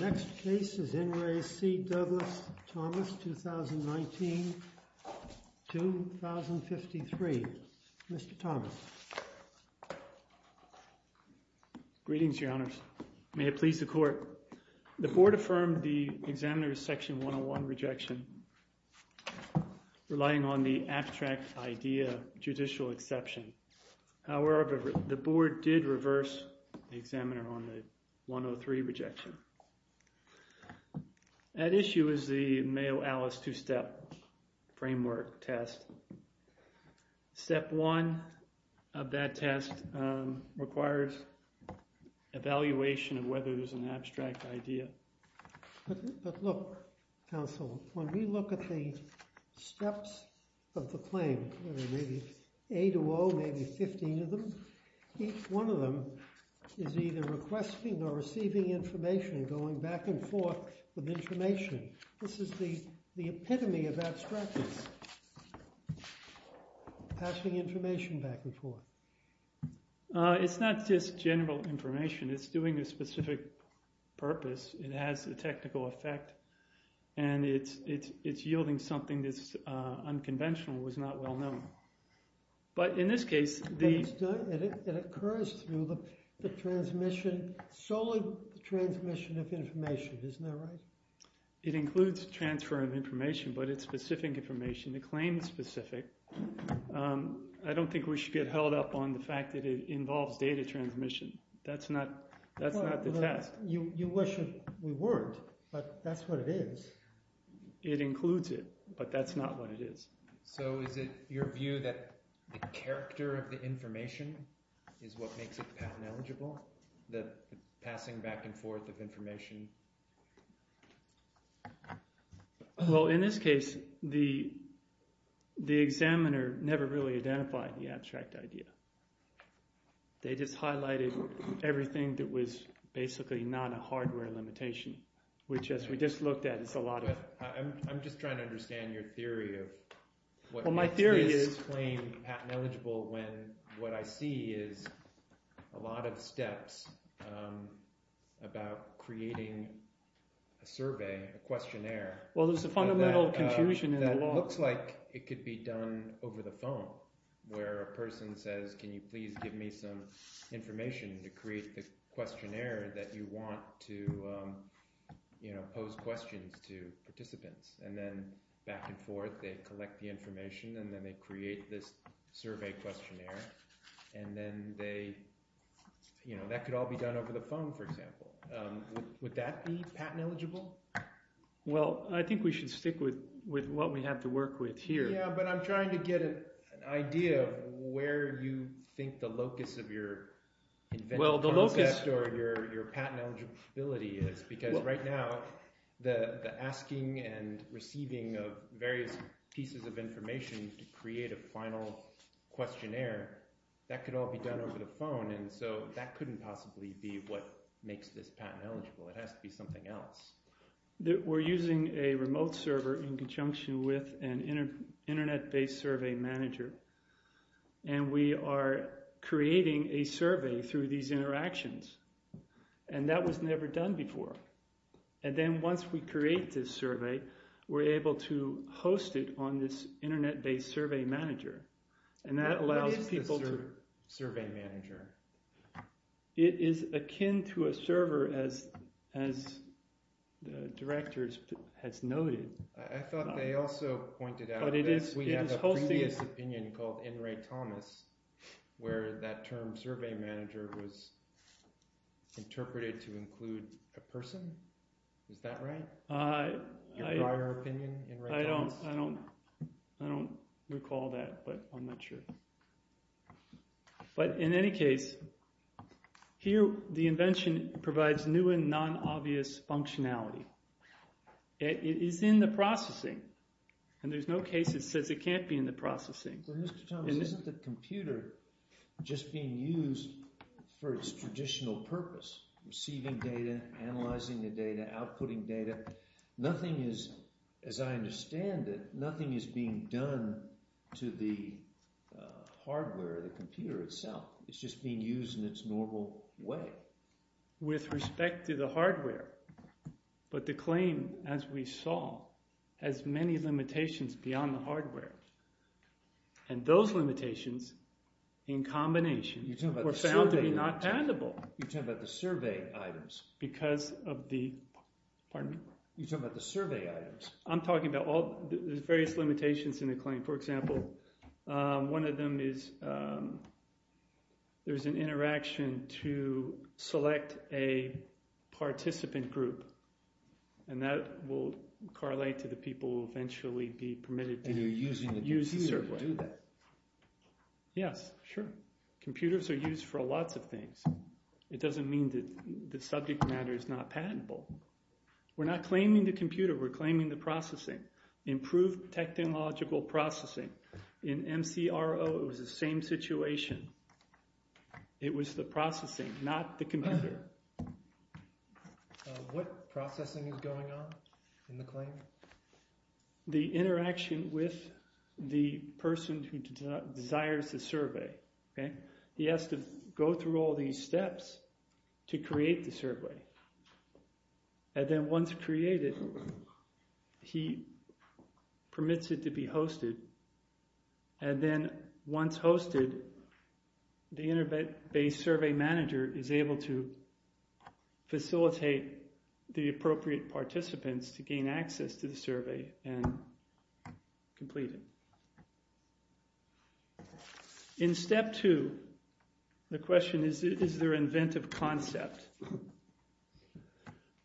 Next case is Enri C. Douglas Thomas, 2019, 2053. Mr. Thomas. Greetings, Your Honors. May it please the court. The board affirmed the examiner's section 101 rejection, relying on the abstract idea, judicial exception. However, the board did reverse the examiner on the 103 rejection. At issue is the framework test. Step one of that test requires evaluation of whether there's an abstract idea. But look, counsel, when we look at the steps of the claim, maybe A to O, maybe 15 of them, each one of them is either requesting or receiving information, going back and forth with information. This is the epitome of abstractness, passing information back and forth. It's not just general information, it's doing a specific purpose. It has a technical effect. And it's yielding something that's unconventional, was not well known. But in this case, it occurs through the transmission, solely the transmission of information, isn't that right? It includes transfer of information, but it's specific information, the claim specific. I don't think we should get held up on the fact that it involves data transmission. That's not, that's not the test. You wish we weren't, but that's what it is. It includes it, but that's not what it is. So is it your view that the character of the information is what makes it patent eligible? The passing back and forth of information? Well, in this case, the, the examiner never really identified the abstract idea. They just highlighted everything that was basically not a hardware limitation, which as we just looked at, it's a lot of... But I'm just trying to understand your theory of what makes this claim patent eligible when what I see is a lot of survey, a questionnaire. Well, there's a fundamental confusion in the law. That looks like it could be done over the phone, where a person says, can you please give me some information to create the questionnaire that you want to, you know, pose questions to participants and then back and forth, they collect the information and then they create this survey questionnaire. And then they, you know, that could all be done over the phone, for Well, I think we should stick with, with what we have to work with here. Yeah, but I'm trying to get an idea of where you think the locus of your invention, your patent eligibility is, because right now, the asking and receiving of various pieces of information to create a final questionnaire, that could all be done over the phone. And so that couldn't possibly be what makes this patent eligible. It has to be something else. That we're using a remote server in conjunction with an internet-based survey manager. And we are creating a survey through these interactions. And that was never done before. And then once we create this survey, we're able to host it on this internet-based survey manager. And that allows people to survey manager. It is akin to a server as, as the directors has noted. I thought they also pointed out that we had a previous opinion called N. Ray Thomas, where that term survey manager was interpreted to include a person. Is that right? I don't, I don't. I don't recall that, but I'm not sure. But in any case, here, the invention provides new and non-obvious functionality. It is in the processing. And there's no case that says it can't be in the processing. But Mr. Thomas, isn't the computer just being used for its traditional purpose? Receiving data, analyzing the data, outputting data. Nothing is, as I understand it, nothing is being done to the hardware of the computer itself. It's just being used in its normal way. With respect to the hardware. But the claim, as we saw, has many limitations beyond the hardware. And those limitations, in combination, were found to be not addable. You're talking about the survey items. Because of the, pardon me? You're talking about the survey items. I'm talking about all the various limitations in the claim. For example, one of them is, there's an interaction to select a participant group. And that will correlate to the people who will eventually be permitted to use the survey. Yes, sure. Computers are used for lots of things. It doesn't mean that the subject matter is not patentable. We're not patent processing. Improved technological processing. In MCRO, it was the same situation. It was the processing, not the computer. What processing is going on in the claim? The interaction with the person who desires the survey. He has to go through all these steps to create the survey. And then once created, he permits it to be hosted. And then once hosted, the inter-base survey manager is able to facilitate the appropriate participants to gain access to the survey and complete it. In step two, the question is, is there inventive concept?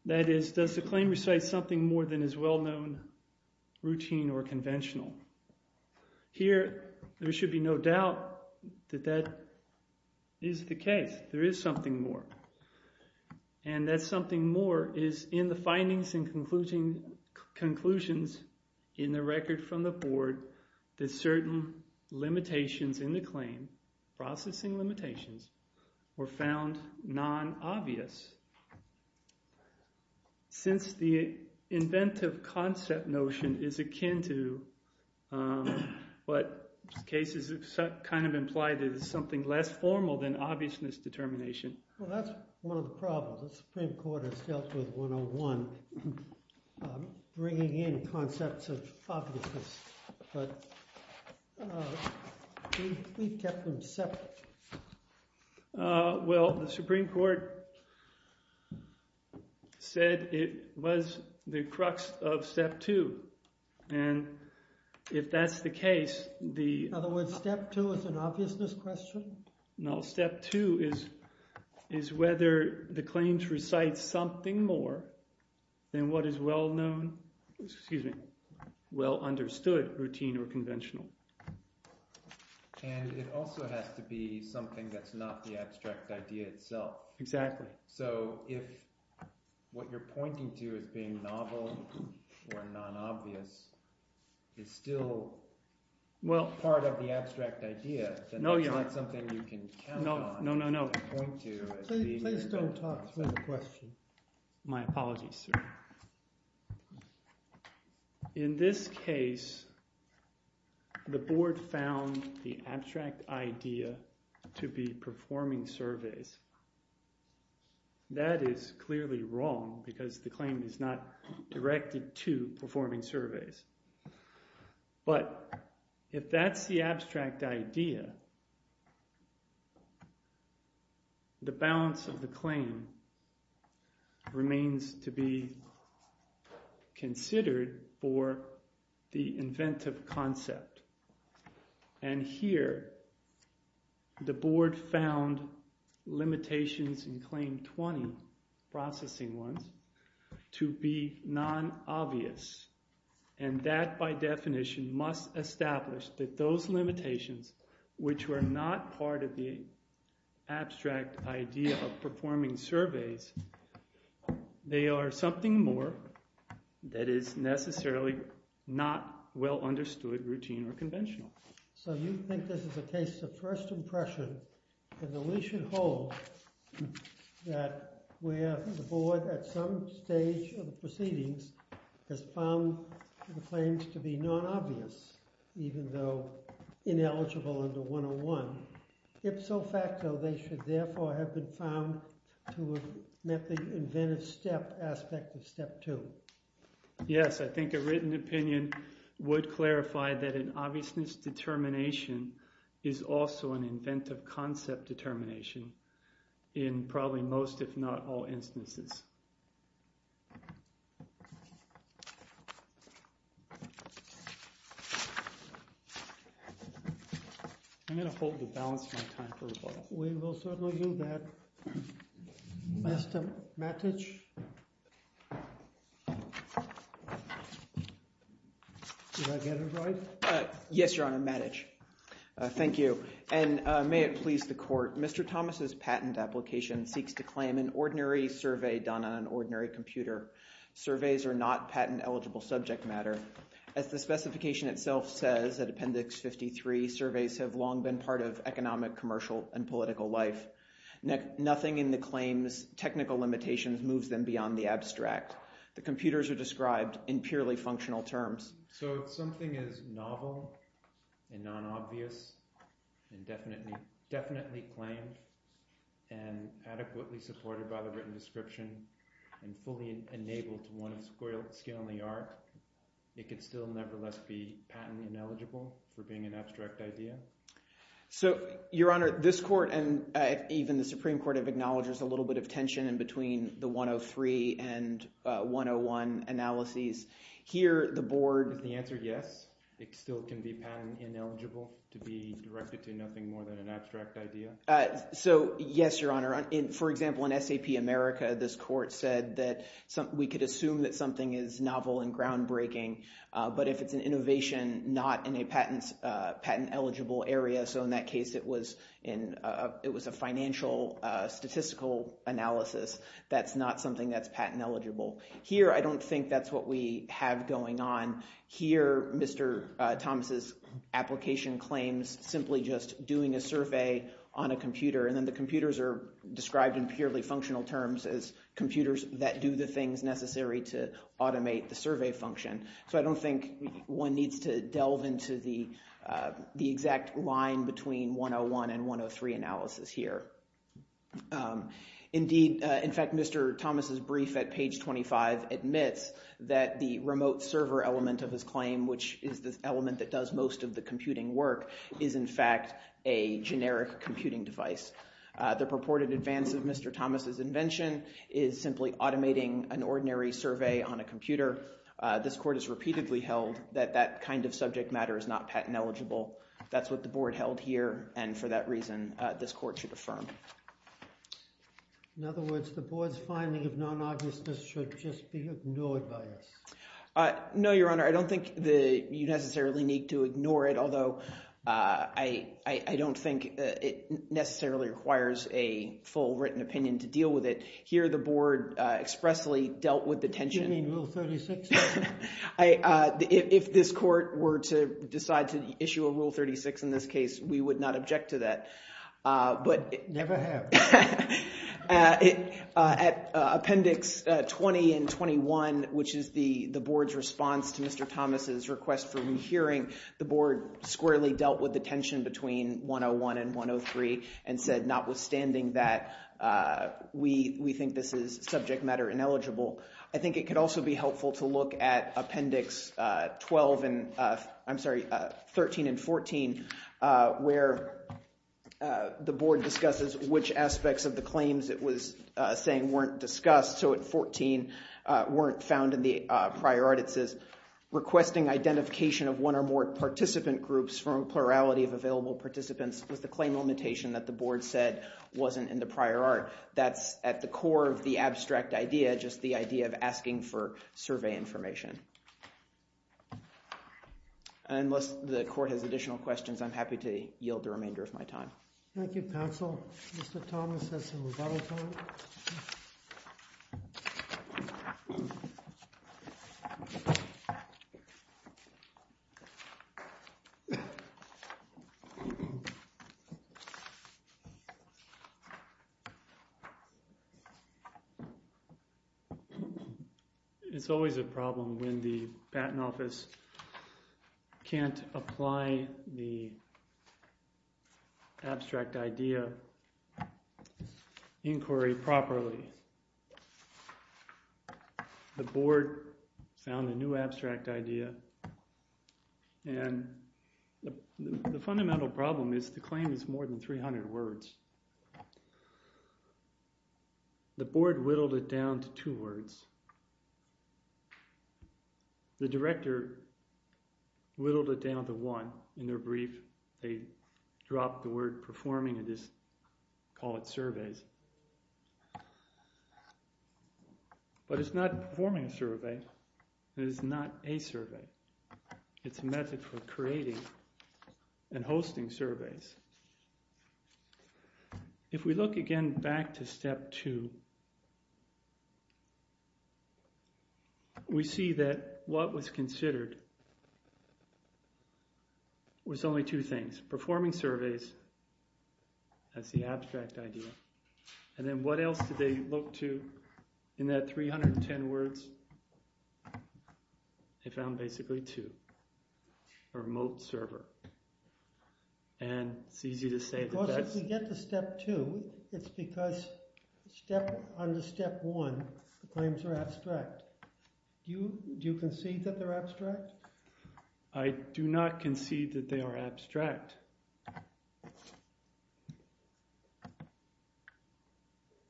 That is, does the claim recite something more than is well- known, routine, or conventional? Here, there should be no doubt that that is the case. There is something more. And that something more is in the findings and conclusions in the record from the board that certain limitations in the claim, processing limitations, were found non-obvious. Since the inventive concept notion is akin to what cases kind of imply, there's something less formal than obviousness determination. Well, that's one of the problems. The Supreme Court has dealt with 101, bringing in concepts of obviousness. But we've kept them separate. Well, the Supreme Court said it was the crux of step two. And if that's the case, the... In other words, step two is an obviousness question? No, step two is, is whether the claims recite something more than what is well known, excuse me, well understood, routine or conventional. And it also has to be something that's not the abstract idea itself. Exactly. So if what you're pointing to as being novel, or non-obvious, is still part of the abstract idea, then that's not something you can count on. No, no, no, no. To point to as being... Please don't talk through the question. My apologies, sir. In this case, the board found the abstract idea to be performing surveys. That is clearly wrong, because the claim is not directed to performing surveys. But if that's the abstract idea, the balance of the claim remains to be considered for the inventive concept. And here, the board found limitations in claim 20, processing ones, to be non-obvious. And that, by definition, must establish that those limitations, which were not part of the abstract idea of performing surveys, they are something more that is necessarily not well understood, routine or conventional. So you think this is a case of first impression, and that we should hold, that where the board, at some stage of the proceedings, has found the claims to be non-obvious, even though ineligible under 101, ipso facto, they should therefore have been found to have met the inventive step aspect of step two. Yes, I think a written opinion would clarify that an obviousness determination is also an inventive concept determination in probably most, if not all, instances. I'm going to hold the balance of my time for a while. We will certainly do that. Mr. Matich? Yes, Your Honor, Matich. Thank you. And may it please the court, Mr. Thomas's patent application seeks to claim an ordinary survey done on an ordinary computer. Surveys are not patent eligible subject matter. As the specification itself says, at Appendix 53, surveys have long been part of economic, commercial, and political life. Nothing in the claims technical limitations moves them beyond the abstract. The computers are described in purely functional terms. So if something is novel, and non-obvious, and definitely claimed, and adequately supported by the written description, and fully enabled to one's skill and the art, it could still nevertheless be patent ineligible for being an abstract idea? So, Your Honor, this court and even the Supreme Court have acknowledged there's a little bit of tension in between the 103 and 101 analyses. Here, the board... Is the answer yes? It still can be patent ineligible to be directed to nothing more than an abstract idea? So, yes, Your Honor. For example, in SAP America, this court said that we could assume that something is novel and groundbreaking, but if it's an innovation not in an eligible area, so in that case, it was a financial statistical analysis, that's not something that's patent eligible. Here, I don't think that's what we have going on. Here, Mr. Thomas's application claims simply just doing a survey on a computer, and then the computers are described in purely functional terms as computers that do the things necessary to automate the survey function. So, I don't think one needs to delve into the exact line between 101 and 103 analysis here. Indeed, in fact, Mr. Thomas's brief at page 25 admits that the remote server element of his claim, which is this element that does most of the computing work, is in fact a generic computing device. The purported advance of Mr. Thomas's invention is simply automating an ordinary survey on a computer. This court has repeatedly held that that kind of subject matter is not patent eligible. That's what the board held here, and for that reason, this court should affirm. In other words, the board's finding of non-obviousness should just be ignored by us. No, Your Honor. I don't think you necessarily need to ignore it, although I don't think it necessarily requires a full written opinion to deal with it. Here, the board expressly dealt with the tension. Do you mean Rule 36? If this court were to decide to issue a Rule 36 in this case, we would not object to that. Never have. At Appendix 20 and 21, which is the board's response to Mr. Thomas's request for rehearing, the board squarely dealt with the tension between 101 and 103 and said, notwithstanding that, we think this is subject matter ineligible. I think it could also be helpful to look at Appendix 12 and, I'm sorry, 13 and 14, where the board discusses which aspects of the claims it was saying weren't discussed. So at 14, weren't found in the prior art, it says, requesting identification of one or more participant groups from a plurality of available participants with the claim limitation that the board said wasn't in the prior art. That's at the core of the abstract idea, just the idea of asking for survey information. Unless the court has additional questions, I'm happy to yield the remainder of my time. Thank you, counsel. Mr. Thomas has some rebuttal time. It's always a problem when the Patent Office can't apply the abstract idea inquiry properly. The board found a new abstract idea and the fundamental problem is the claim is more than 300 words. The board whittled it down to two words. The director whittled it down to one. In their brief, they dropped the word performing and just call it surveys. But it's not performing a survey, it is not a survey. It's a method for creating and hosting surveys. If we look again back to step two, we see that what was considered was only two things, performing surveys as the abstract idea, and then what else did they look to in that 310 words? They found basically two, remote server. And it's easy to say that that's... Because if we get to step two, it's because step under step one, the claims are abstract. Do you concede that they're abstract? I do not concede that they are abstract.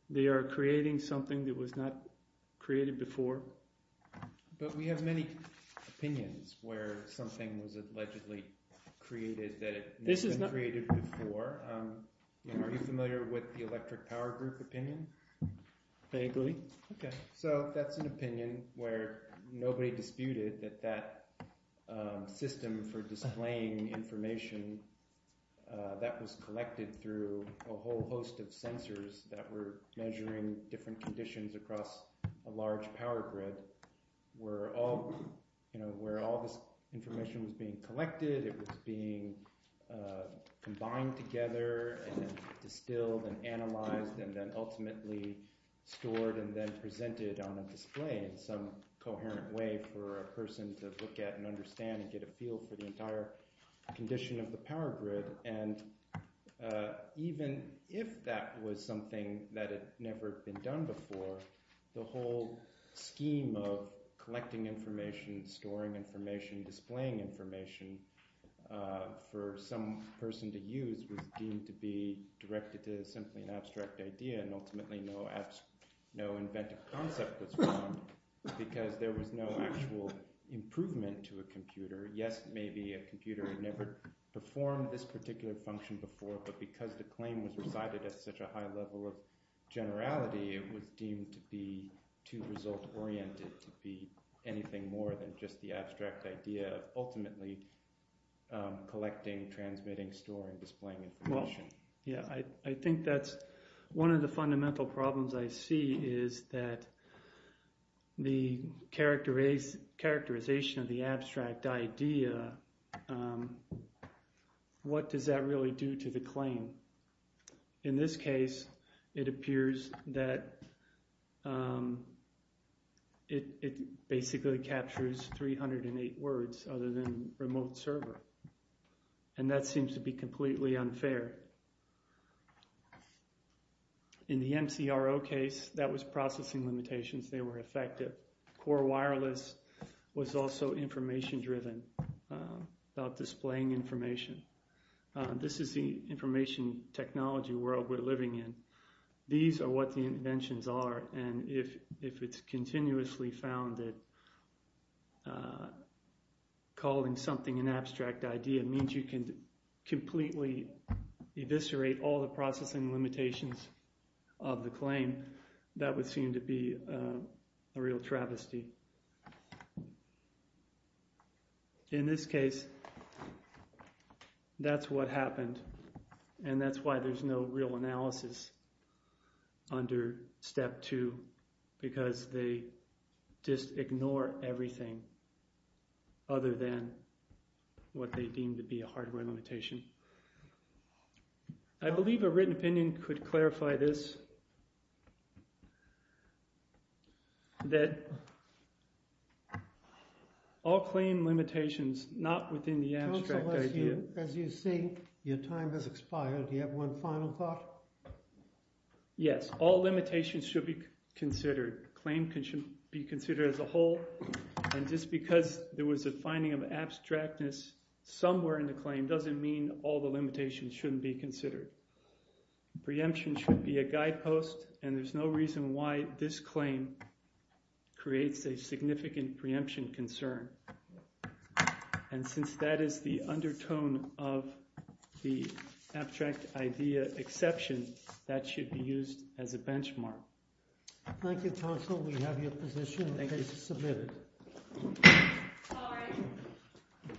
They are creating something that was not created before. But we have many opinions where something was allegedly created that had not been created before. Are you familiar with the electric power group opinion? Vaguely. So that's an opinion where nobody disputed that that system for displaying information that was collected through a whole host of sensors that were measuring different conditions across a large power grid. Where all this information was being collected, it was being combined together, distilled and analyzed, and then ultimately stored and then presented on a display in some power grid. And even if that was something that had never been done before, the whole scheme of collecting information, storing information, displaying information for some person to use was deemed to be directed to simply an abstract idea. And ultimately, no inventive concept was found because there was no actual improvement to a computer. Yes, maybe a computer never performed this particular function before, but because the claim was recited at such a high level of generality, it was deemed to be too result oriented to be anything more than just the abstract idea of ultimately collecting, transmitting, storing, displaying information. Yeah, I think that's one of the fundamental problems I see is that the characterization of the abstract idea. What does that really do to the claim? In this case, it appears that it basically captures 308 words other than remote server. And that seems to be completely unfair. In the MCRO case, that was processing limitations. They were effective. Core wireless was also information driven about displaying information. This is the information technology world we're living in. These are what the inventions are. And if it's continuously found that calling something an abstract idea means you can completely eviscerate all the processing limitations of the claim, that would seem to be a real travesty. In this case, that's what happened. And that's why there's no real analysis under step two, because they just ignore everything other than what they deem to be a hardware limitation. I believe a written opinion could clarify this. That all claim limitations, not within the abstract idea. As you see, your time has expired. Do you have one final thought? Yes, all limitations should be considered. Claim should be considered as a whole. And just because there was a finding of abstractness somewhere in the claim doesn't mean all the limitations shouldn't be considered. Preemption should be a guidepost. And there's no reason why this claim creates a significant preemption concern. And since that is the undertone of the abstract idea exception, that should be used as a benchmark. Thank you, counsel. We have your position. Thank you.